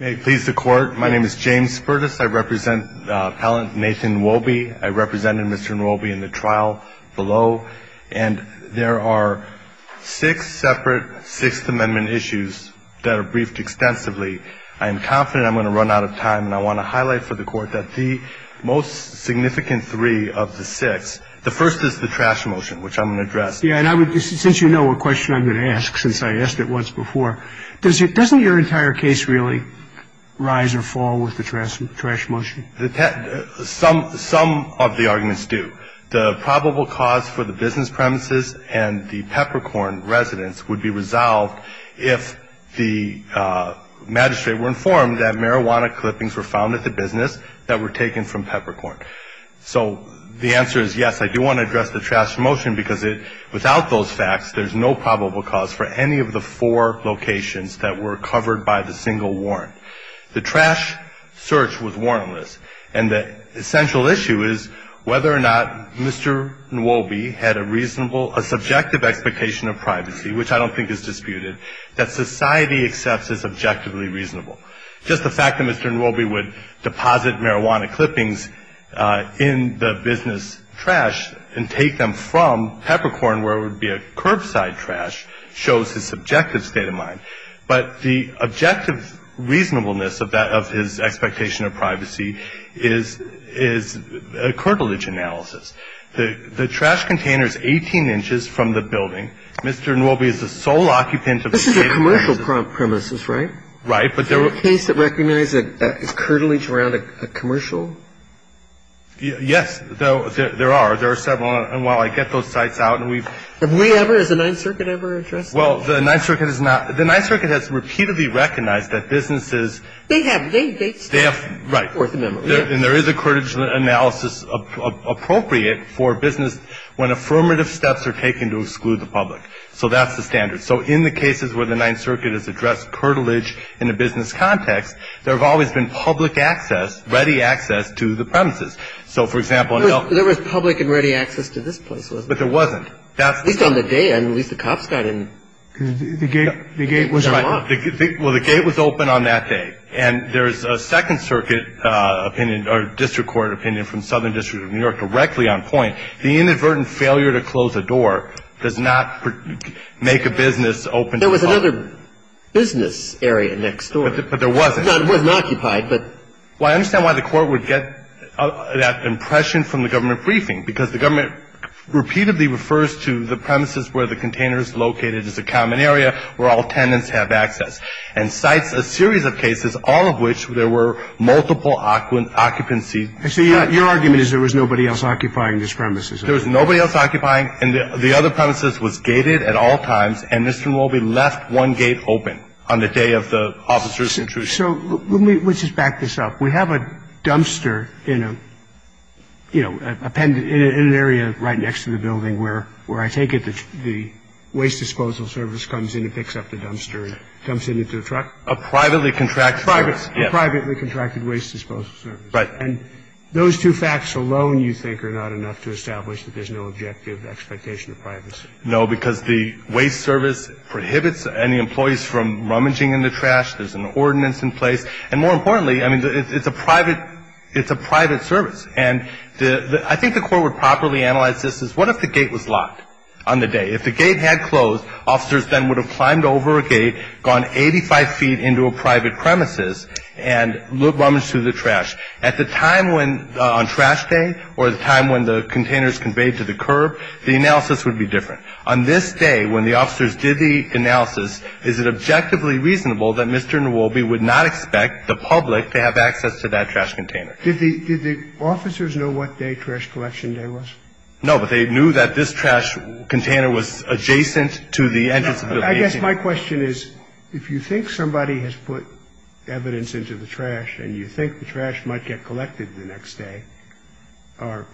I represent Mr. Nwobi in the trial below. And there are six separate Sixth Amendment issues that are briefed extensively. I am confident I'm going to run out of time, and I want to highlight for the court that the most significant three of the six, the first is the trash motion, which I'm going to address. Since you know what question I'm going to ask, since I asked it once before, doesn't your entire case really rise or fall with the trash motion? Some of the arguments do. The probable cause for the business premises and the peppercorn residence would be resolved if the magistrate were informed that marijuana clippings were found at the business that were taken from peppercorn. So the answer is yes, I do want to address the trash motion because without those facts there's no probable cause for any of the four locations that were covered by the single warrant. The trash search was warrantless. And the essential issue is whether or not Mr. Nwobi had a reasonable, a subjective expectation of privacy, which I don't think is disputed, that society accepts as objectively reasonable. Just the fact that Mr. Nwobi would deposit marijuana clippings in the business trash and take them from peppercorn, where it would be a curbside trash, shows his subjective state of mind. But the objective reasonableness of that, of his expectation of privacy, is a curtilage analysis. The trash container is 18 inches from the building. Mr. Nwobi is the sole occupant of the building. This is a commercial premises, right? Right. Is there a case that recognizes that it's curtilage around a commercial? Yes, there are. There are several. And while I get those sites out and we've – Have we ever? Has the Ninth Circuit ever addressed that? Well, the Ninth Circuit has not – the Ninth Circuit has repeatedly recognized that businesses – They have. They – Right. And there is a curtilage analysis appropriate for business when affirmative steps are taken to exclude the public. So that's the standard. So in the cases where the Ninth Circuit has addressed curtilage in a business context, there have always been public access, ready access to the premises. So, for example – There was public and ready access to this place, wasn't there? But there wasn't. That's – At least on the day end. At least the cops got in. The gate was locked. Well, the gate was open on that day. And there is a Second Circuit opinion or district court opinion from Southern District of New York directly on point. The inadvertent failure to close a door does not make a business open to public. There was another business area next door. But there wasn't. It wasn't occupied, but – Well, I understand why the Court would get that impression from the government briefing, because the government repeatedly refers to the premises where the container is located as a common area where all tenants have access. And cites a series of cases, all of which there were multiple occupancy – So your argument is there was nobody else occupying this premises? There was nobody else occupying. And the other premises was gated at all times. And Mr. Mulby left one gate open on the day of the officer's intrusion. So let me – let's just back this up. We have a dumpster in a, you know, in an area right next to the building where I take it, the waste disposal service comes in and picks up the dumpster and dumps it into a truck. A privately contracted – A privately contracted waste disposal service. And those two facts alone you think are not enough to establish that there's no objective expectation of privacy? No, because the waste service prohibits any employees from rummaging in the trash. There's an ordinance in place. And more importantly, I mean, it's a private – it's a private service. And I think the Court would properly analyze this as what if the gate was locked on the day? If the gate had closed, officers then would have climbed over a gate, gone 85 feet into a private premises and rummaged through the trash. At the time when – on trash day or the time when the container is conveyed to the curb, the analysis would be different. On this day, when the officers did the analysis, is it objectively reasonable that Mr. Mulby would not expect the public to have access to that trash container? Did the – did the officers know what day trash collection day was? No, but they knew that this trash container was adjacent to the entrance of the building. I guess my question is if you think somebody has put evidence into the trash and you think the trash might get collected the next day or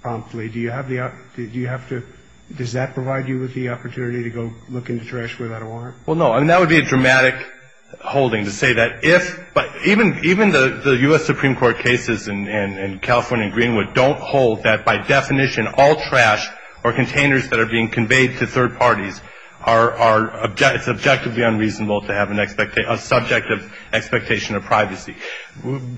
promptly, do you have the – do you have to – does that provide you with the opportunity to go look into trash without a warrant? Well, no. I mean, that would be a dramatic holding to say that if – but even the U.S. Supreme Court cases in California and Greenwood don't hold that by definition, all trash or containers that are being conveyed to third parties are – it's objectively unreasonable to have an – a subjective expectation of privacy.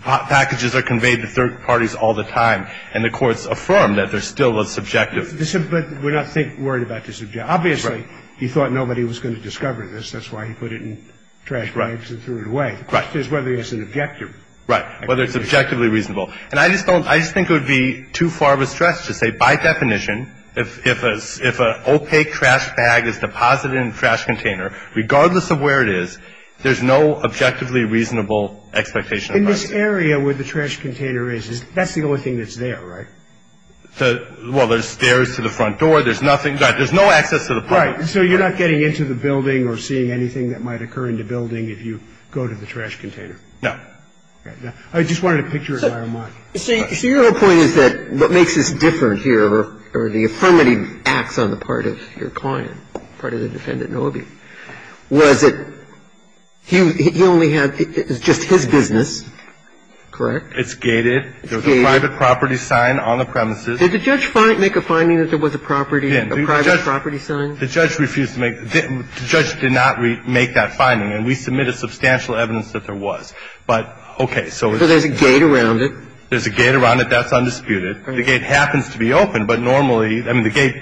Packages are conveyed to third parties all the time, and the courts affirm that there's still a subjective – But we're not worried about this objective. Obviously, he thought nobody was going to discover this. That's why he put it in trash bags and threw it away. The question is whether there's an objective. Right, whether it's objectively reasonable. And I just don't – I just think it would be too far of a stretch to say by definition, if an opaque trash bag is deposited in a trash container, regardless of where it is, there's no objectively reasonable expectation of privacy. In this area where the trash container is, that's the only thing that's there, right? Well, there's stairs to the front door. There's nothing – there's no access to the public. Right. So you're not getting into the building or seeing anything that might occur in the building if you go to the trash container? No. I just wanted to picture it where I'm at. So your whole point is that what makes this different here, or the affirmative acts on the part of your client, part of the defendant, Nobby, was that he only had – it was just his business, correct? It's gated. It's gated. There was a private property sign on the premises. Did the judge make a finding that there was a property – a private property sign? Well, there was – there was no substantial evidence that there was. But, okay. So there's a gate around it. There's a gate around it. That's undisputed. The gate happens to be open, but normally – I mean, the gate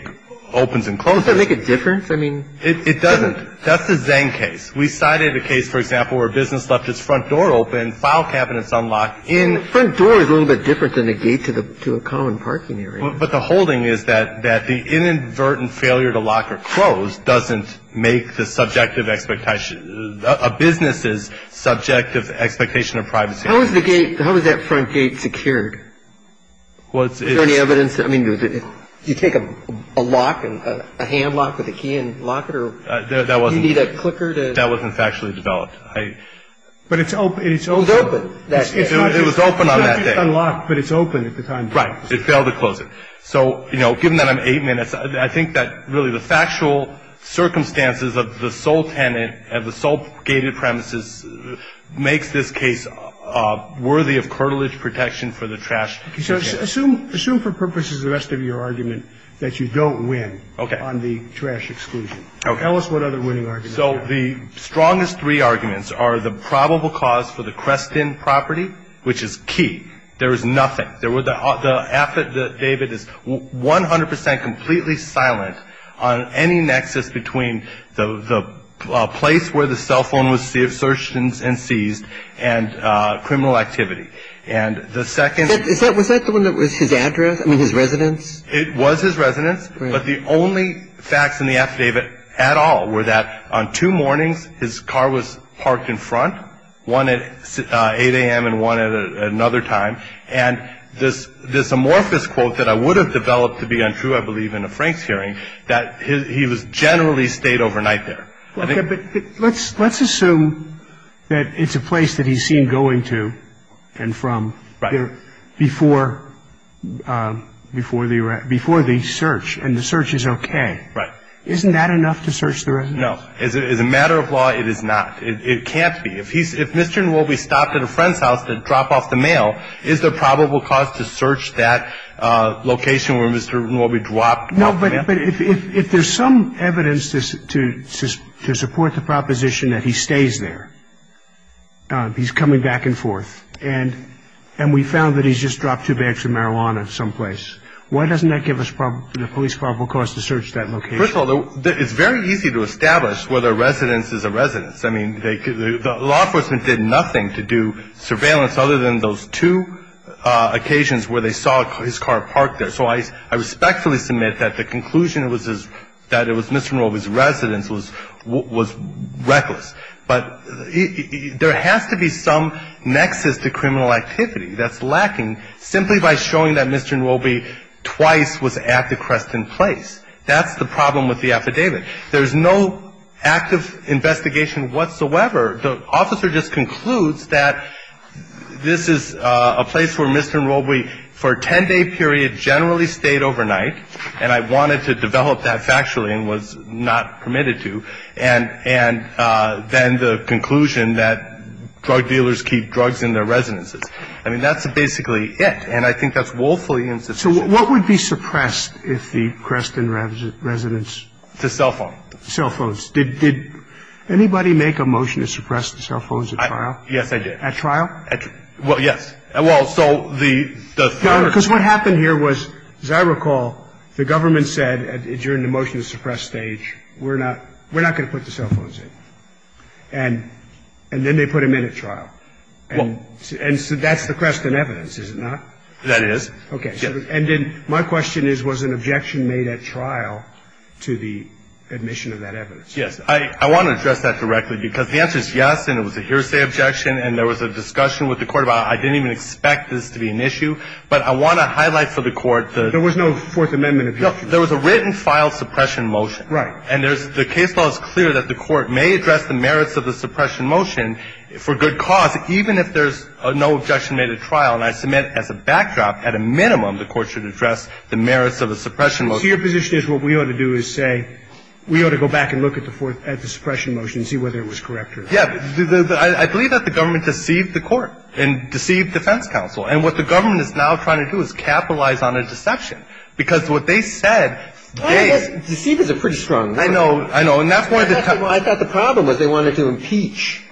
opens and closes. Does that make a difference? I mean, it doesn't. That's the Zang case. We cited a case, for example, where a business left its front door open, file cabinets unlocked in – Front door is a little bit different than a gate to a common parking area. But the holding is that the inadvertent failure to lock or close doesn't make the subjective expectation – a business's subjective expectation of privacy. How is the gate – how is that front gate secured? Was it – Is there any evidence? I mean, do you take a lock, a hand lock with a key and lock it, or – That wasn't – Do you need a clicker to – That wasn't factually developed. I – But it's open. It was open that day. It was open on that day. It's not just unlocked, but it's open at the time. Right. It failed to close it. So, you know, given that I'm eight minutes, I think that really the factual circumstances of the sole tenant and the sole gated premises makes this case worthy of cartilage protection for the trash. Assume for purposes of the rest of your argument that you don't win on the trash exclusion. Okay. Tell us what other winning arguments there are. So the strongest three arguments are the probable cause for the crest in property, which is key. There is nothing. The affidavit is 100 percent completely silent on any nexus between the place where the cell phone was searched and seized and criminal activity. And the second – Was that the one that was his address? I mean, his residence? It was his residence. But the only facts in the affidavit at all were that on two mornings his car was parked in front, one at 8 a.m. and one at another time. And this amorphous quote that I would have developed to be untrue, I believe, in a Franks hearing, that he was generally stayed overnight there. Okay. But let's assume that it's a place that he's seen going to and from before the search and the search is okay. Right. Isn't that enough to search the residence? No. As a matter of law, it is not. It can't be. If Mr. Nwobi stopped at a friend's house to drop off the mail, is there probable cause to search that location where Mr. Nwobi dropped off the mail? No, but if there's some evidence to support the proposition that he stays there, he's coming back and forth, and we found that he's just dropped two bags of marijuana someplace, why doesn't that give us the police probable cause to search that location? First of all, it's very easy to establish whether a residence is a residence. I mean, the law enforcement did nothing to do surveillance other than those two occasions where they saw his car parked there. So I respectfully submit that the conclusion was that it was Mr. Nwobi's residence was reckless. But there has to be some nexus to criminal activity that's lacking simply by showing that Mr. Nwobi twice was at the Creston place. That's the problem with the affidavit. There's no active investigation whatsoever. The officer just concludes that this is a place where Mr. Nwobi for a 10-day period generally stayed overnight, and I wanted to develop that factually and was not permitted to, and then the conclusion that drug dealers keep drugs in their residences. I mean, that's basically it, and I think that's woefully insufficient. So what would be suppressed if the Creston residence? The cell phone. Cell phones. Did anybody make a motion to suppress the cell phones at trial? Yes, I did. At trial? Well, yes. Well, so the third. Because what happened here was, as I recall, the government said during the motion to suppress stage, we're not going to put the cell phones in. And then they put them in at trial. And so that's the Creston evidence, is it not? That is. Okay. And then my question is, was an objection made at trial to the admission of that evidence? Yes. I want to address that directly, because the answer is yes, and it was a hearsay objection, and there was a discussion with the Court about I didn't even expect this to be an issue. But I want to highlight for the Court the – There was no Fourth Amendment objection. There was a written filed suppression motion. Right. And the case law is clear that the Court may address the merits of the suppression motion for good cause, even if there's no objection made at trial, and I submit as a backdrop, at a minimum, the Court should address the merits of a suppression motion. So your position is what we ought to do is say we ought to go back and look at the Fourth – at the suppression motion and see whether it was correct or not? Yeah. I believe that the government deceived the Court and deceived defense counsel. And what the government is now trying to do is capitalize on a deception, because what they said – Deceivers are pretty strong. I know. I know. And that's why the – I thought the problem was they wanted to impeach.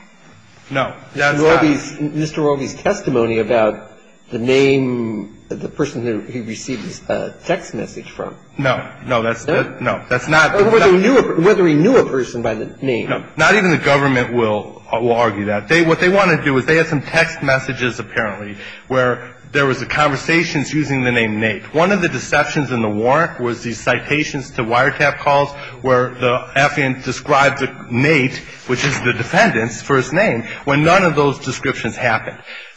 No. That's not – Mr. Roby's testimony about the name – the person who he received a text message from. No. No, that's – no. That's not – Whether he knew a – whether he knew a person by the name. No. Not even the government will – will argue that. They – what they want to do is they have some text messages, apparently, where there was a conversation using the name Nate. One of the deceptions in the warrant was these citations to wiretap calls where the happened.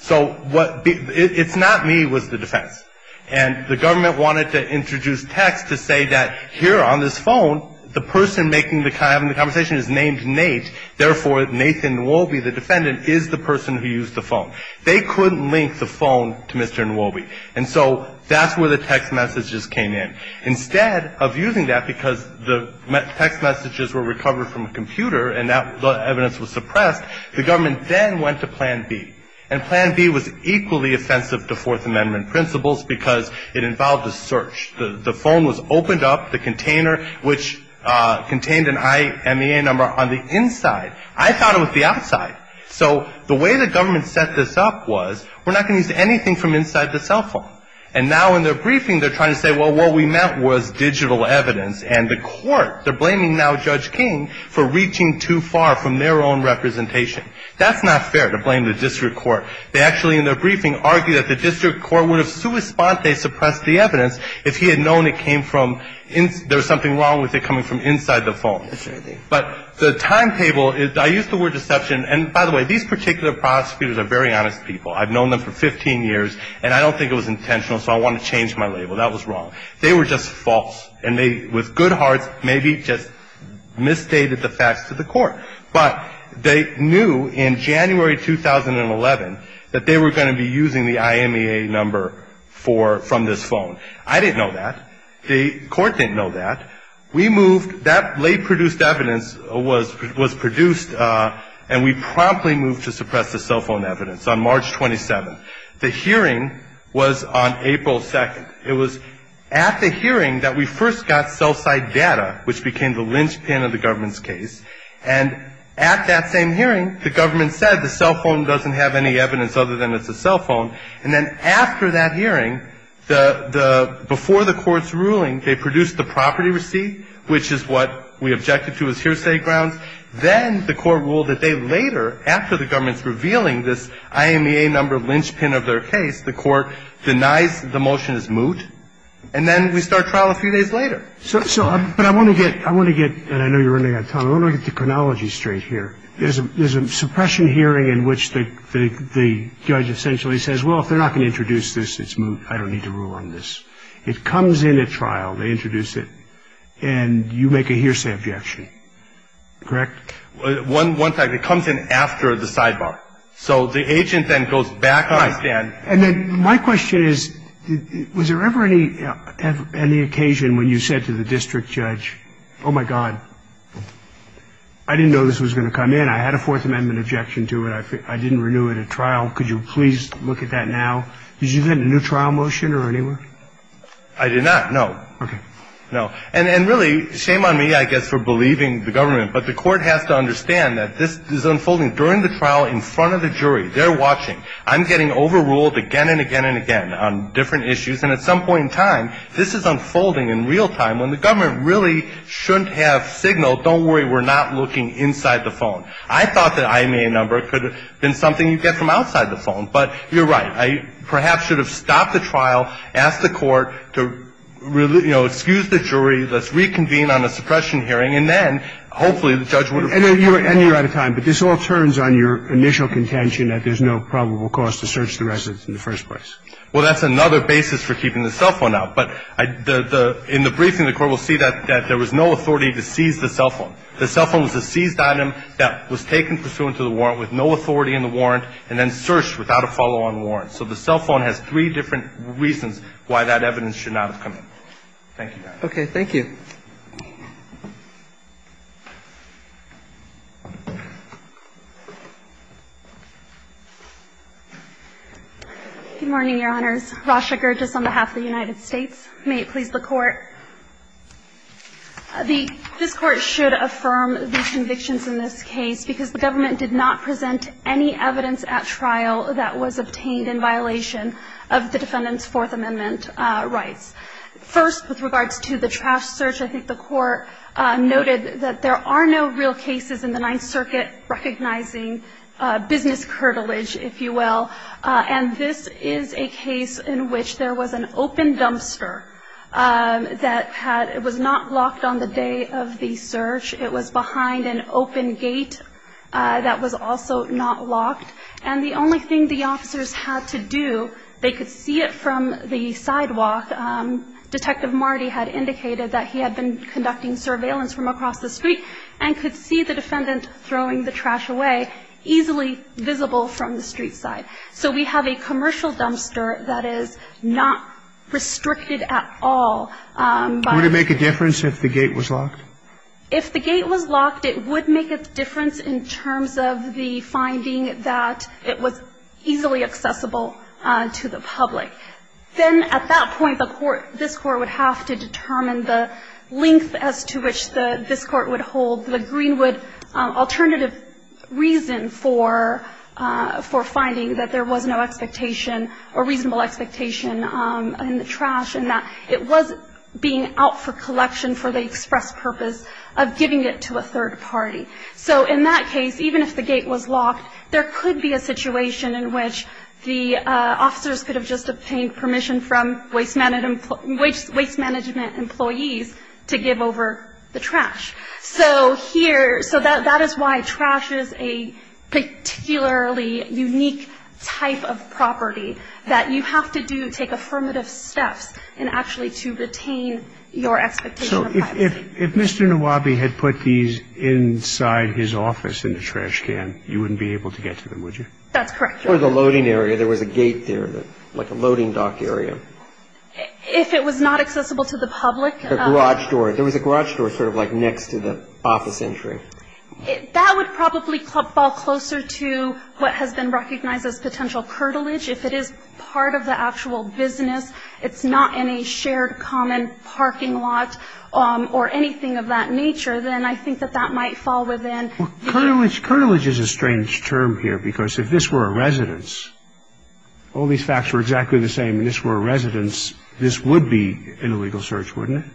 So what – it's not me, it was the defense. And the government wanted to introduce text to say that here on this phone, the person making the – having the conversation is named Nate, therefore, Nathan Nwobi, the defendant, is the person who used the phone. They couldn't link the phone to Mr. Nwobi. And so that's where the text messages came in. Instead of using that because the text messages were recovered from a computer and that evidence was suppressed, the government then went to Plan B. And Plan B was equally offensive to Fourth Amendment principles because it involved a search. The phone was opened up, the container, which contained an IMEA number on the inside. I found it with the outside. So the way the government set this up was we're not going to use anything from inside the cell phone. And now in their briefing, they're trying to say, well, what we meant was digital evidence. And the court, they're blaming now Judge King for reaching too far from their own representation. That's not fair to blame the district court. They actually, in their briefing, argue that the district court would have sui sponte suppressed the evidence if he had known it came from – there was something wrong with it coming from inside the phone. But the timetable – I used the word deception. And by the way, these particular prosecutors are very honest people. I've known them for 15 years, and I don't think it was intentional, so I want to change my label. That was wrong. They were just false. And they, with good hearts, maybe just misstated the facts to the court. But they knew in January 2011 that they were going to be using the IMEA number for – from this phone. I didn't know that. The court didn't know that. We moved – that late-produced evidence was produced, and we promptly moved to suppress the cell phone evidence on March 27th. The hearing was on April 2nd. It was at the hearing that we first got cell site data, which became the linchpin of the government's case. And at that same hearing, the government said the cell phone doesn't have any evidence other than it's a cell phone. And then after that hearing, the – before the court's ruling, they produced the property receipt, which is what we objected to as hearsay grounds. Then the court ruled that they later, after the government's revealing this IMEA number the court denies the motion as moot. And then we start trial a few days later. So – but I want to get – I want to get – and I know you're running out of time. I want to get the chronology straight here. There's a suppression hearing in which the judge essentially says, well, if they're not going to introduce this, it's moot. I don't need to rule on this. It comes in at trial. They introduce it. And you make a hearsay objection. Correct? One fact. It comes in after the sidebar. So the agent then goes back on the stand. And then my question is, was there ever any occasion when you said to the district judge, oh, my God, I didn't know this was going to come in. I had a Fourth Amendment objection to it. I didn't renew it at trial. Could you please look at that now? Did you get a new trial motion or anywhere? I did not, no. Okay. No. And really, shame on me, I guess, for believing the government. But the court has to understand that this is unfolding during the trial in front of the jury. They're watching. I'm getting overruled again and again and again on different issues. And at some point in time, this is unfolding in real time. When the government really shouldn't have signaled, don't worry, we're not looking inside the phone. I thought that IMA number could have been something you get from outside the phone. But you're right. I perhaps should have stopped the trial, asked the court to, you know, excuse the jury. Let's reconvene on a suppression hearing. And then, hopefully, the judge would have been able to do that. And you're out of time. But this all turns on your initial contention that there's no probable cause to search the residence in the first place. Well, that's another basis for keeping the cell phone out. But in the briefing, the court will see that there was no authority to seize the cell phone. The cell phone was a seized item that was taken pursuant to the warrant with no authority in the warrant and then searched without a follow-on warrant. So the cell phone has three different reasons why that evidence should not have come Thank you, Your Honor. Thank you. Good morning, Your Honors. Rasha Gerges on behalf of the United States. May it please the Court. This Court should affirm these convictions in this case because the government did not present any evidence at trial that was obtained in violation of the defendant's Fourth Amendment rights. First, with regards to the trash search, I think the Court noted that there are no real cases in the Ninth Circuit recognizing business curtilage, if you will. And this is a case in which there was an open dumpster that was not locked on the day of the search. It was behind an open gate that was also not locked. And the only thing the officers had to do, they could see it from the sidewalk. Detective Marty had indicated that he had been conducting surveillance from across the street and could see the defendant throwing the trash away easily visible from the street side. So we have a commercial dumpster that is not restricted at all. Would it make a difference if the gate was locked? If the gate was locked, it would make a difference in terms of the finding that it was easily accessible to the public. Then at that point, the Court, this Court would have to determine the length as to which this Court would hold the Greenwood alternative reason for finding that there was no expectation or reasonable expectation in the trash and that it was being out for collection for the express purpose of giving it to a third party. So in that case, even if the gate was locked, there could be a situation in which the officers could have just obtained permission from waste management employees to give over the trash. So here, so that is why trash is a particularly unique type of property that you have to do, take affirmative steps in actually to retain your expectation of privacy. So if Mr. Nawabi had put these inside his office in the trash can, you wouldn't be able to get to them, would you? That's correct. For the loading area, there was a gate there, like a loading dock area. If it was not accessible to the public. A garage door. There was a garage door sort of like next to the office entry. That would probably fall closer to what has been recognized as potential curtilage. If it is part of the actual business, it's not in a shared common parking lot, or anything of that nature, then I think that that might fall within. Well, curtilage is a strange term here, because if this were a residence, all these facts were exactly the same, and this were a residence, this would be in a legal search, wouldn't it?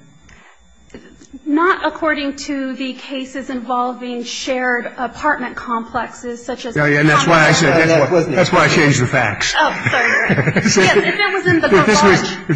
Not according to the cases involving shared apartment complexes, such as... If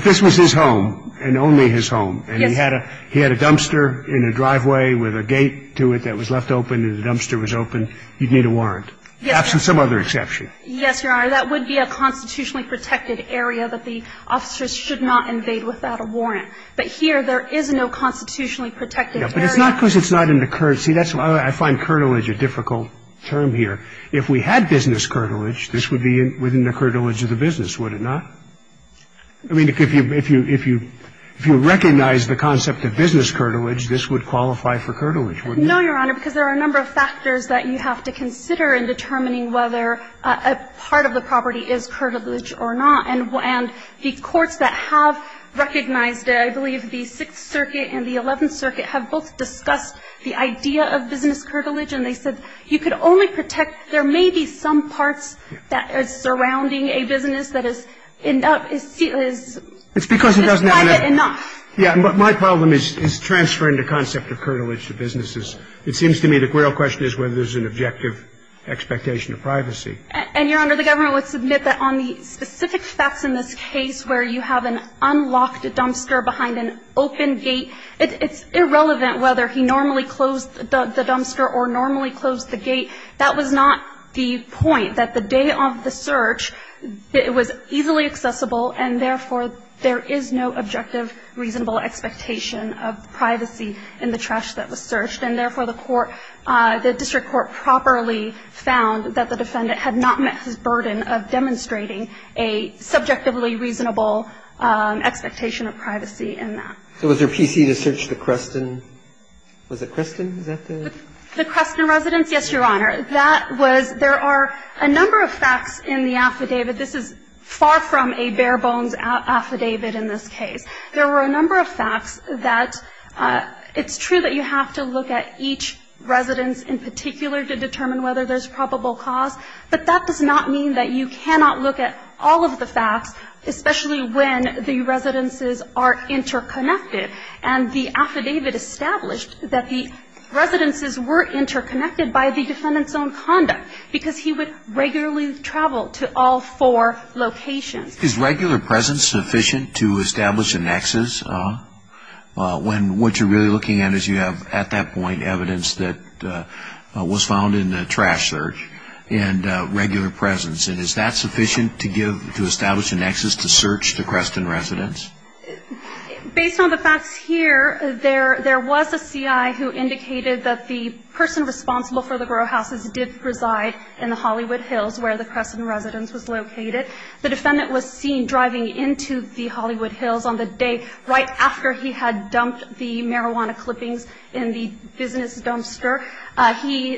this was his home, and only his home, and he had a dumpster in a driveway with a gate to it that was left open and the dumpster was open, you'd need a warrant. Yes, Your Honor. Absent some other exception. Yes, Your Honor. That would be a constitutionally protected area that the officers should not invade without a warrant. But here, there is no constitutionally protected area. But it's not because it's not in the current... See, I find curtilage a difficult term here. If we had business curtilage, this would be within the curtilage of the business, would it not? I mean, if you recognize the concept of business curtilage, this would qualify for curtilage, wouldn't it? No, Your Honor, because there are a number of factors that you have to consider in determining whether a part of the property is curtilage or not. And the courts that have recognized it, I believe the Sixth Circuit and the Eleventh Circuit, have both discussed the idea of business curtilage. And they said you could only protect... There may be some parts that are surrounding a business that is... It's because it doesn't have..... is private enough. Yes, but my problem is transferring the concept of curtilage to businesses. It seems to me the real question is whether there's an objective expectation of privacy. And, Your Honor, the government would submit that on the specific facts in this case where you have an unlocked dumpster behind an open gate, it's irrelevant whether he normally closed the dumpster or normally closed the gate. That was not the point. That the day of the search, it was easily accessible, and therefore, there is no objective reasonable expectation of privacy in the trash that was searched. And therefore, the court, the district court properly found that the defendant had not met his burden of demonstrating a subjectively reasonable expectation of privacy in that. So was there PC to search the Creston? Was it Creston? Is that the... The Creston residence? Yes, Your Honor. That was... There are a number of facts in the affidavit. This is far from a bare-bones affidavit in this case. There were a number of facts that it's true that you have to look at each residence in particular to determine whether there's probable cause, but that does not mean that you cannot look at all of the facts, especially when the residences are interconnected. And the affidavit established that the residences were interconnected by the defendant's own conduct because he would regularly travel to all four locations. Is regular presence sufficient to establish a nexus when what you're really looking at is you have, at that point, evidence that was found in the trash search and regular presence? And is that sufficient to establish a nexus to search the Creston residence? Based on the facts here, there was a CI who indicated that the person responsible for the grow houses did reside in the Hollywood Hills where the Creston residence was located. The defendant was seen driving into the Hollywood Hills on the day right after he had dumped the marijuana clippings in the business dumpster.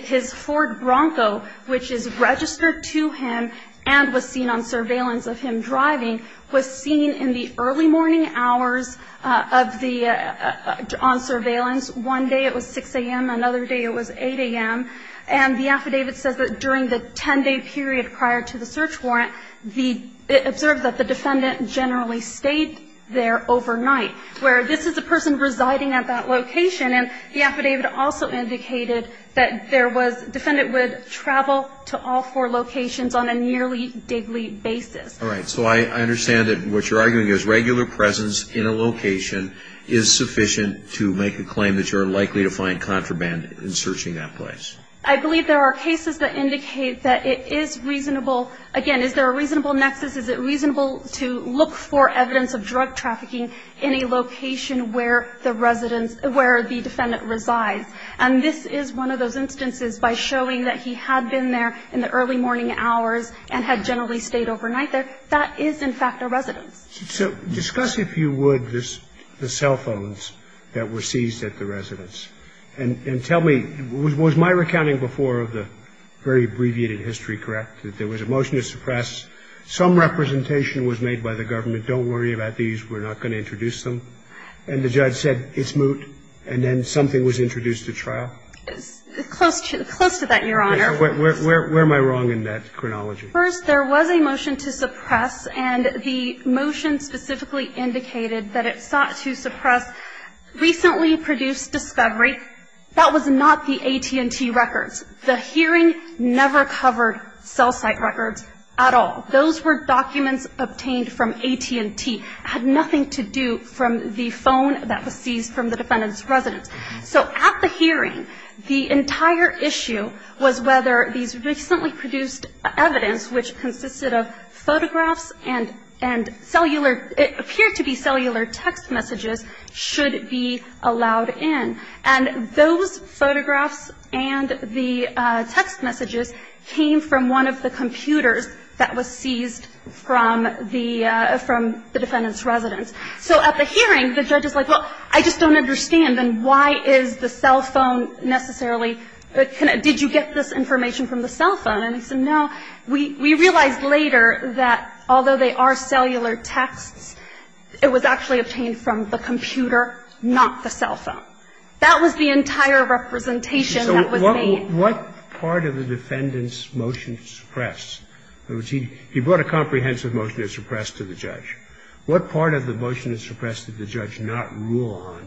His Ford Bronco, which is registered to him and was seen on surveillance of him driving, was seen in the early morning hours on surveillance. One day it was 6 a.m. Another day it was 8 a.m. And the affidavit says that during the 10-day period prior to the search warrant, it observed that the defendant generally stayed there overnight, where this is a person residing at that location. And the affidavit also indicated that there was the defendant would travel to all four locations on a nearly daily basis. All right. So I understand that what you're arguing is regular presence in a location is sufficient to make a claim that you're likely to find contraband in searching that place. I believe there are cases that indicate that it is reasonable. Again, is there a reasonable nexus? Is it reasonable to look for evidence of drug trafficking in a location where the defendant resides? And this is one of those instances by showing that he had been there in the early morning hours. So I think it's reasonable to look for evidence of drug trafficking in a location where that is in fact a residence. So discuss, if you would, the cell phones that were seized at the residence. And tell me, was my recounting before of the very abbreviated history correct, that there was a motion to suppress, some representation was made by the government, don't worry about these, we're not going to introduce them, and the judge said it's moot, and then something was introduced at trial? Close to that, Your Honor. Where am I wrong in that chronology? First, there was a motion to suppress, and the motion specifically indicated that it sought to suppress recently produced discovery. That was not the AT&T records. The hearing never covered cell site records at all. Those were documents obtained from AT&T. It had nothing to do from the phone that was seized from the defendant's residence. So at the hearing, the entire issue was whether these recently produced evidence, which consisted of photographs and cellular, it appeared to be cellular text messages, should be allowed in. And those photographs and the text messages came from one of the computers that was seized from the defendant's residence. So at the hearing, the judge is like, well, I just don't understand, and why is the cell phone necessarily, did you get this information from the cell phone? And he said, no. We realized later that although they are cellular texts, it was actually obtained from the computer, not the cell phone. That was the entire representation that was made. So what part of the defendant's motion to suppress? In other words, he brought a comprehensive motion to suppress to the judge. What part of the motion to suppress did the judge not rule on,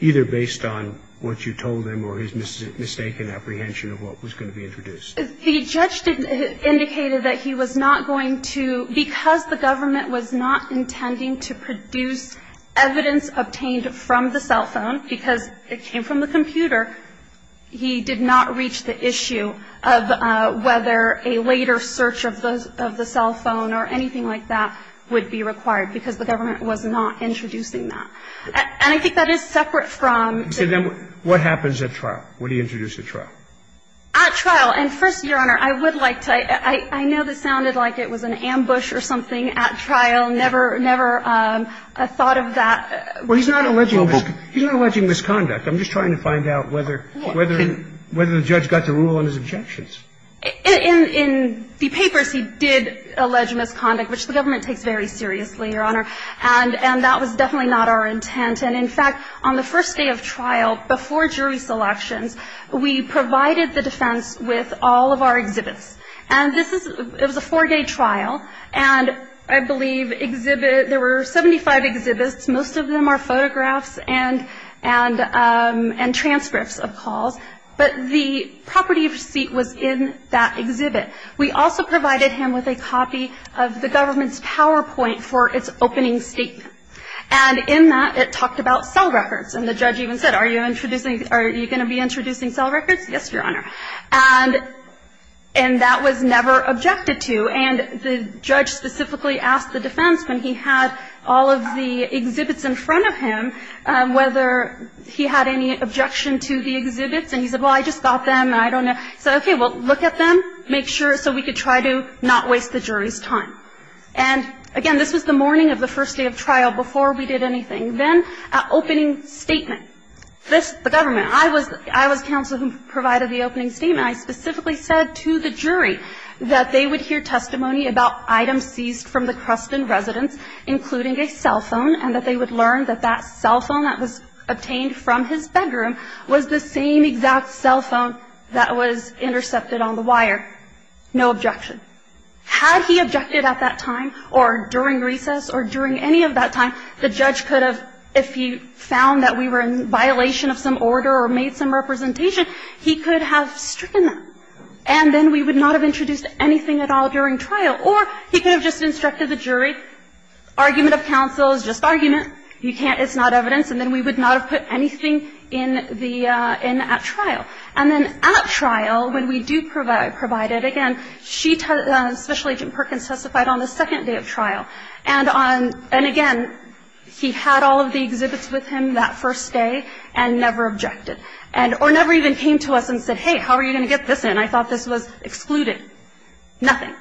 either based on what you told him or his mistaken apprehension of what was going to be introduced? The judge indicated that he was not going to, because the government was not intending to produce evidence obtained from the cell phone, because it came from the computer, he did not reach the issue of whether a later search of the cell phone or anything like that would be required, because the government was not introducing that. And I think that is separate from to them. What happens at trial? What do you introduce at trial? At trial. And first, Your Honor, I would like to – I know this sounded like it was an ambush or something at trial. Never, never thought of that. Well, he's not alleging misconduct. I'm just trying to find out whether the judge got the rule on his objections. In the papers, he did allege misconduct, which the government takes very seriously, Your Honor. And that was definitely not our intent. And in fact, on the first day of trial, before jury selections, we provided the defense with all of our exhibits. And this is – it was a four-day trial, and I believe exhibit – there were 75 exhibits. Most of them are photographs and transcripts of calls. But the property of receipt was in that exhibit. We also provided him with a copy of the government's PowerPoint for its opening statement. And in that, it talked about cell records. And the judge even said, are you introducing – are you going to be introducing cell records? Yes, Your Honor. And that was never objected to. And the judge specifically asked the defense, when he had all of the exhibits in front of him, whether he had any objection to the exhibits. And he said, well, I just got them, and I don't know. He said, okay, well, look at them, make sure – so we could try to not waste the jury's time. And, again, this was the morning of the first day of trial, before we did anything. Then, opening statement. This – the government. I was – I was counsel who provided the opening statement. I specifically said to the jury that they would hear testimony about items seized from the Creston residence, including a cell phone, and that they would learn that that cell phone that was obtained from his bedroom was the same exact cell phone that was intercepted on the wire. No objection. Had he objected at that time or during recess or during any of that time, the judge could have – if he found that we were in violation of some order or made some representation, he could have stricken them. And then we would not have introduced anything at all during trial. Or he could have just instructed the jury, argument of counsel is just argument. You can't – it's not evidence. And then we would not have put anything in the – in at trial. And then at trial, when we do provide it, again, she – Special Agent Perkins testified on the second day of trial. And on – and, again, he had all of the exhibits with him that first day and never objected. And – or never even came to us and said, hey, how are you going to get this in? I thought this was excluded. Nothing.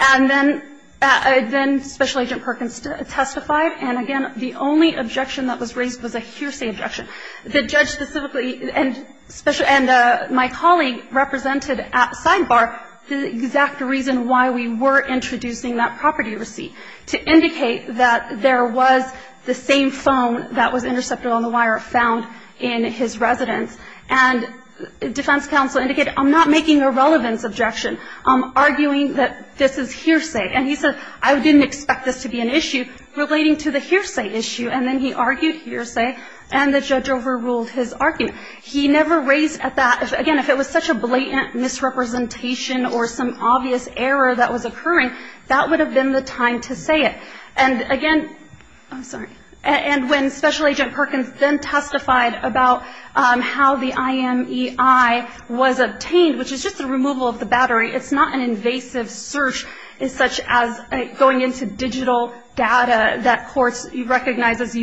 And then – then Special Agent Perkins testified. And, again, the only objection that was raised was a hearsay objection. The judge specifically – and my colleague represented at sidebar the exact reason why we were introducing that property receipt, to indicate that there was the same phone that was intercepted on the wire found in his residence. And defense counsel indicated, I'm not making a relevance objection. I'm arguing that this is hearsay. And he said, I didn't expect this to be an issue relating to the hearsay issue. And then he argued hearsay. And the judge overruled his argument. He never raised at that – again, if it was such a blatant misrepresentation or some obvious error that was occurring, that would have been the time to say it. And, again – I'm sorry. And when Special Agent Perkins then testified about how the IMEI was obtained, which is just the removal of the battery. It's not an invasive search, such as going into digital data that courts recognize as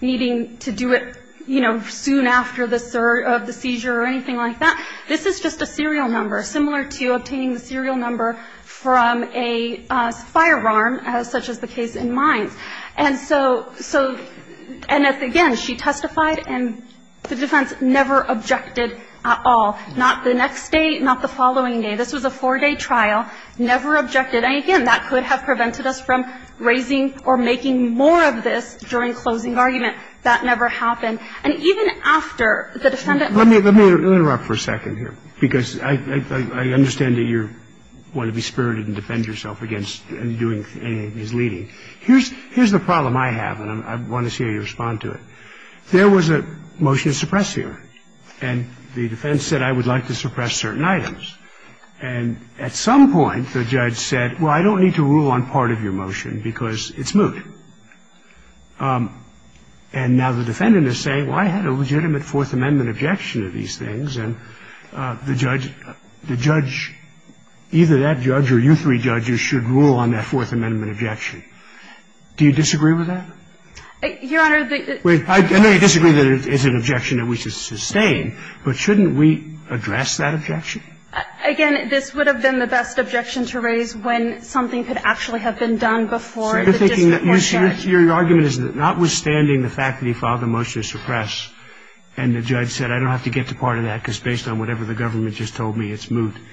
needing to do it, you know, soon after the seizure or anything like that. This is just a serial number, similar to obtaining the serial number from a firearm, such as the case in Mines. And so – and, again, she testified, and the defense never objected at all. Not the next day, not the following day. This was a four-day trial. Never objected. And, again, that could have prevented us from raising or making more of this during closing argument. That never happened. And even after the defendant – Let me interrupt for a second here, because I understand that you're – want to be spirited and defend yourself against undoing any misleading. Here's the problem I have, and I want to see how you respond to it. There was a motion to suppress here, and the defense said, I would like to suppress certain items. And at some point, the judge said, well, I don't need to rule on part of your motion because it's moot. And now the defendant is saying, well, I had a legitimate Fourth Amendment objection to these things, and the judge – either that judge or you three judges should rule on that Fourth Amendment objection. Do you disagree with that? Your Honor, the – Wait. I know you disagree that it's an objection that we should sustain, but shouldn't we address that objection? Again, this would have been the best objection to raise when something could actually have been done before the disappointment of the judge. Your argument is that notwithstanding the fact that he filed the motion to suppress and the judge said, I don't have to get to part of that because based on whatever the government just told me, it's moot. And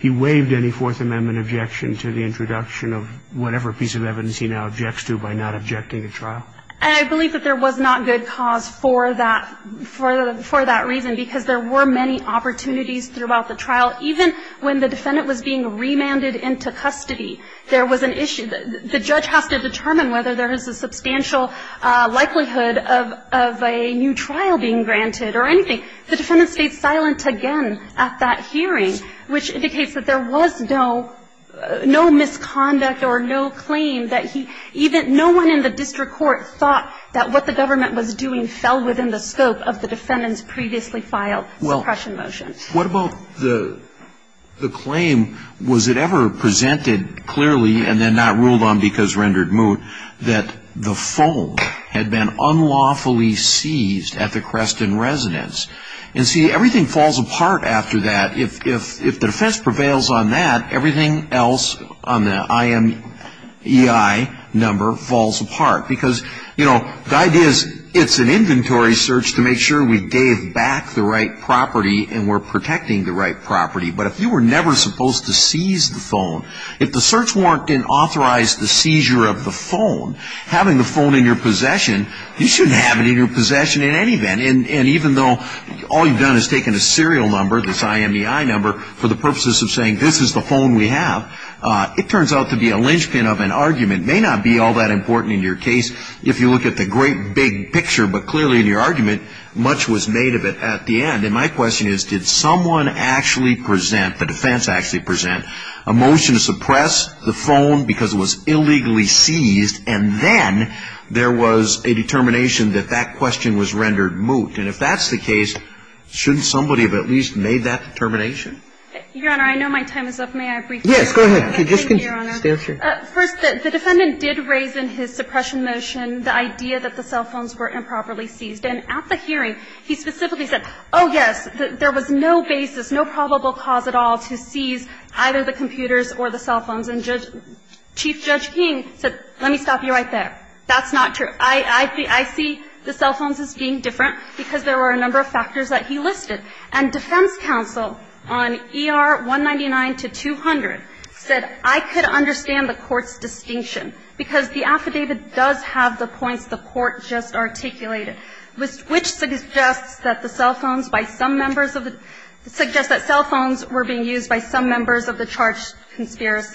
he waived any Fourth Amendment objection to the introduction of whatever piece of evidence he now objects to by not objecting to trial. And I believe that there was not good cause for that – for that reason, because there were many opportunities throughout the trial. Even when the defendant was being remanded into custody, there was an issue. The judge has to determine whether there is a substantial likelihood of a new trial being granted or anything. The defendant stayed silent again at that hearing, which indicates that there was no – no misconduct or no claim that he – even no one in the district court thought that what the government was doing fell within the scope of the defendant's previously filed suppression motion. Well, what about the – the claim, was it ever presented clearly and then not ruled on because rendered moot that the phone had been unlawfully seized at the Creston residence? And see, everything falls apart after that. If – if the defense prevails on that, everything else on the IMEI number falls apart. Because, you know, the idea is it's an inventory search to make sure we gave back the right property and we're protecting the right property. But if you were never supposed to seize the phone, if the search warrant didn't authorize the seizure of the phone, having the phone in your possession, you shouldn't have it in your possession in any event. And even though all you've done is taken a serial number, this IMEI number, for the purposes of saying this is the phone we have, it turns out to be a linchpin of an argument. It may not be all that important in your case if you look at the great big picture. But clearly in your argument, much was made of it at the end. And my question is, did someone actually present – the defense actually present a motion to suppress the phone because it was illegally seized and then there was a determination that that question was rendered moot? And if that's the case, shouldn't somebody have at least made that determination? Your Honor, I know my time is up. May I briefly? Yes, go ahead. Thank you, Your Honor. First, the defendant did raise in his suppression motion the idea that the cell phones were improperly seized. And at the hearing, he specifically said, oh, yes, there was no basis, no probable cause at all to seize either the computers or the cell phones. And Chief Judge King said, let me stop you right there. That's not true. I see the cell phones as being different because there were a number of factors that he listed. And defense counsel on ER 199 to 200 said, I could understand the Court's distinction because the affidavit does have the points the Court just articulated, which suggests that the cell phones by some members of the – suggests that cell phones were being seized. And I just want to say that the evidence that was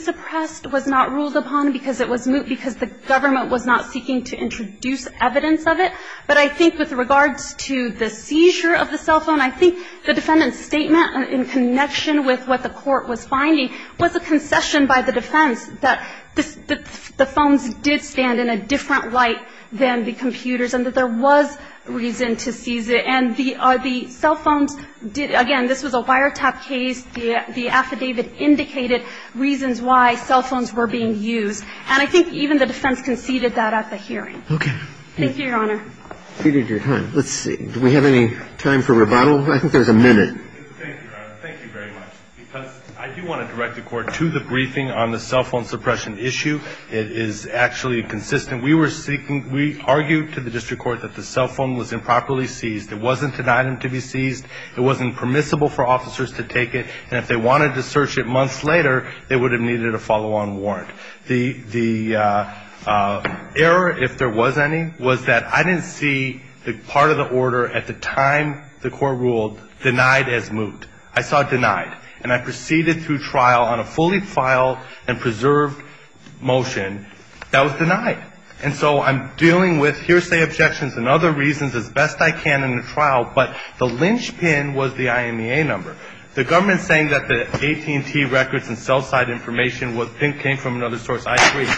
suppressed was not ruled upon because it was moot because the government was not seeking to introduce evidence of it. But I think with regards to the seizure of the cell phone, I think the defendant's statement in connection with what the Court was finding was a concession by the defense that the phones did stand in a different light than the computers and that there was reason to seize it. And the cell phones did – again, this was a wiretap case. The affidavit indicated reasons why cell phones were being used. And I think even the defense conceded that at the hearing. Okay. Thank you, Your Honor. We need your time. Let's see. Do we have any time for rebuttal? I think there's a minute. Thank you, Your Honor. Thank you very much. Because I do want to direct the Court to the briefing on the cell phone suppression issue. It is actually consistent. We were seeking – we argued to the district court that the cell phone was improperly seized. It wasn't an item to be seized. It wasn't permissible for officers to take it. And if they wanted to search it months later, they would have needed a follow-on warrant. The error, if there was any, was that I didn't see the part of the order at the time the Court ruled denied as moot. I saw it denied. And I proceeded through trial on a fully filed and preserved motion that was denied. And so I'm dealing with hearsay objections and other reasons as best I can in the trial. But the lynch pin was the IMEA number. The government is saying that the AT&T records and cell site information came from another source. I agree.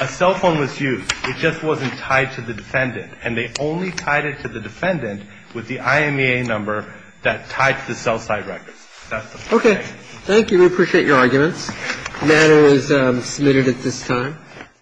A cell phone was used. It just wasn't tied to the defendant. And they only tied it to the defendant with the IMEA number that tied to the cell site records. Okay. Thank you. We appreciate your arguments. The matter is submitted at this time.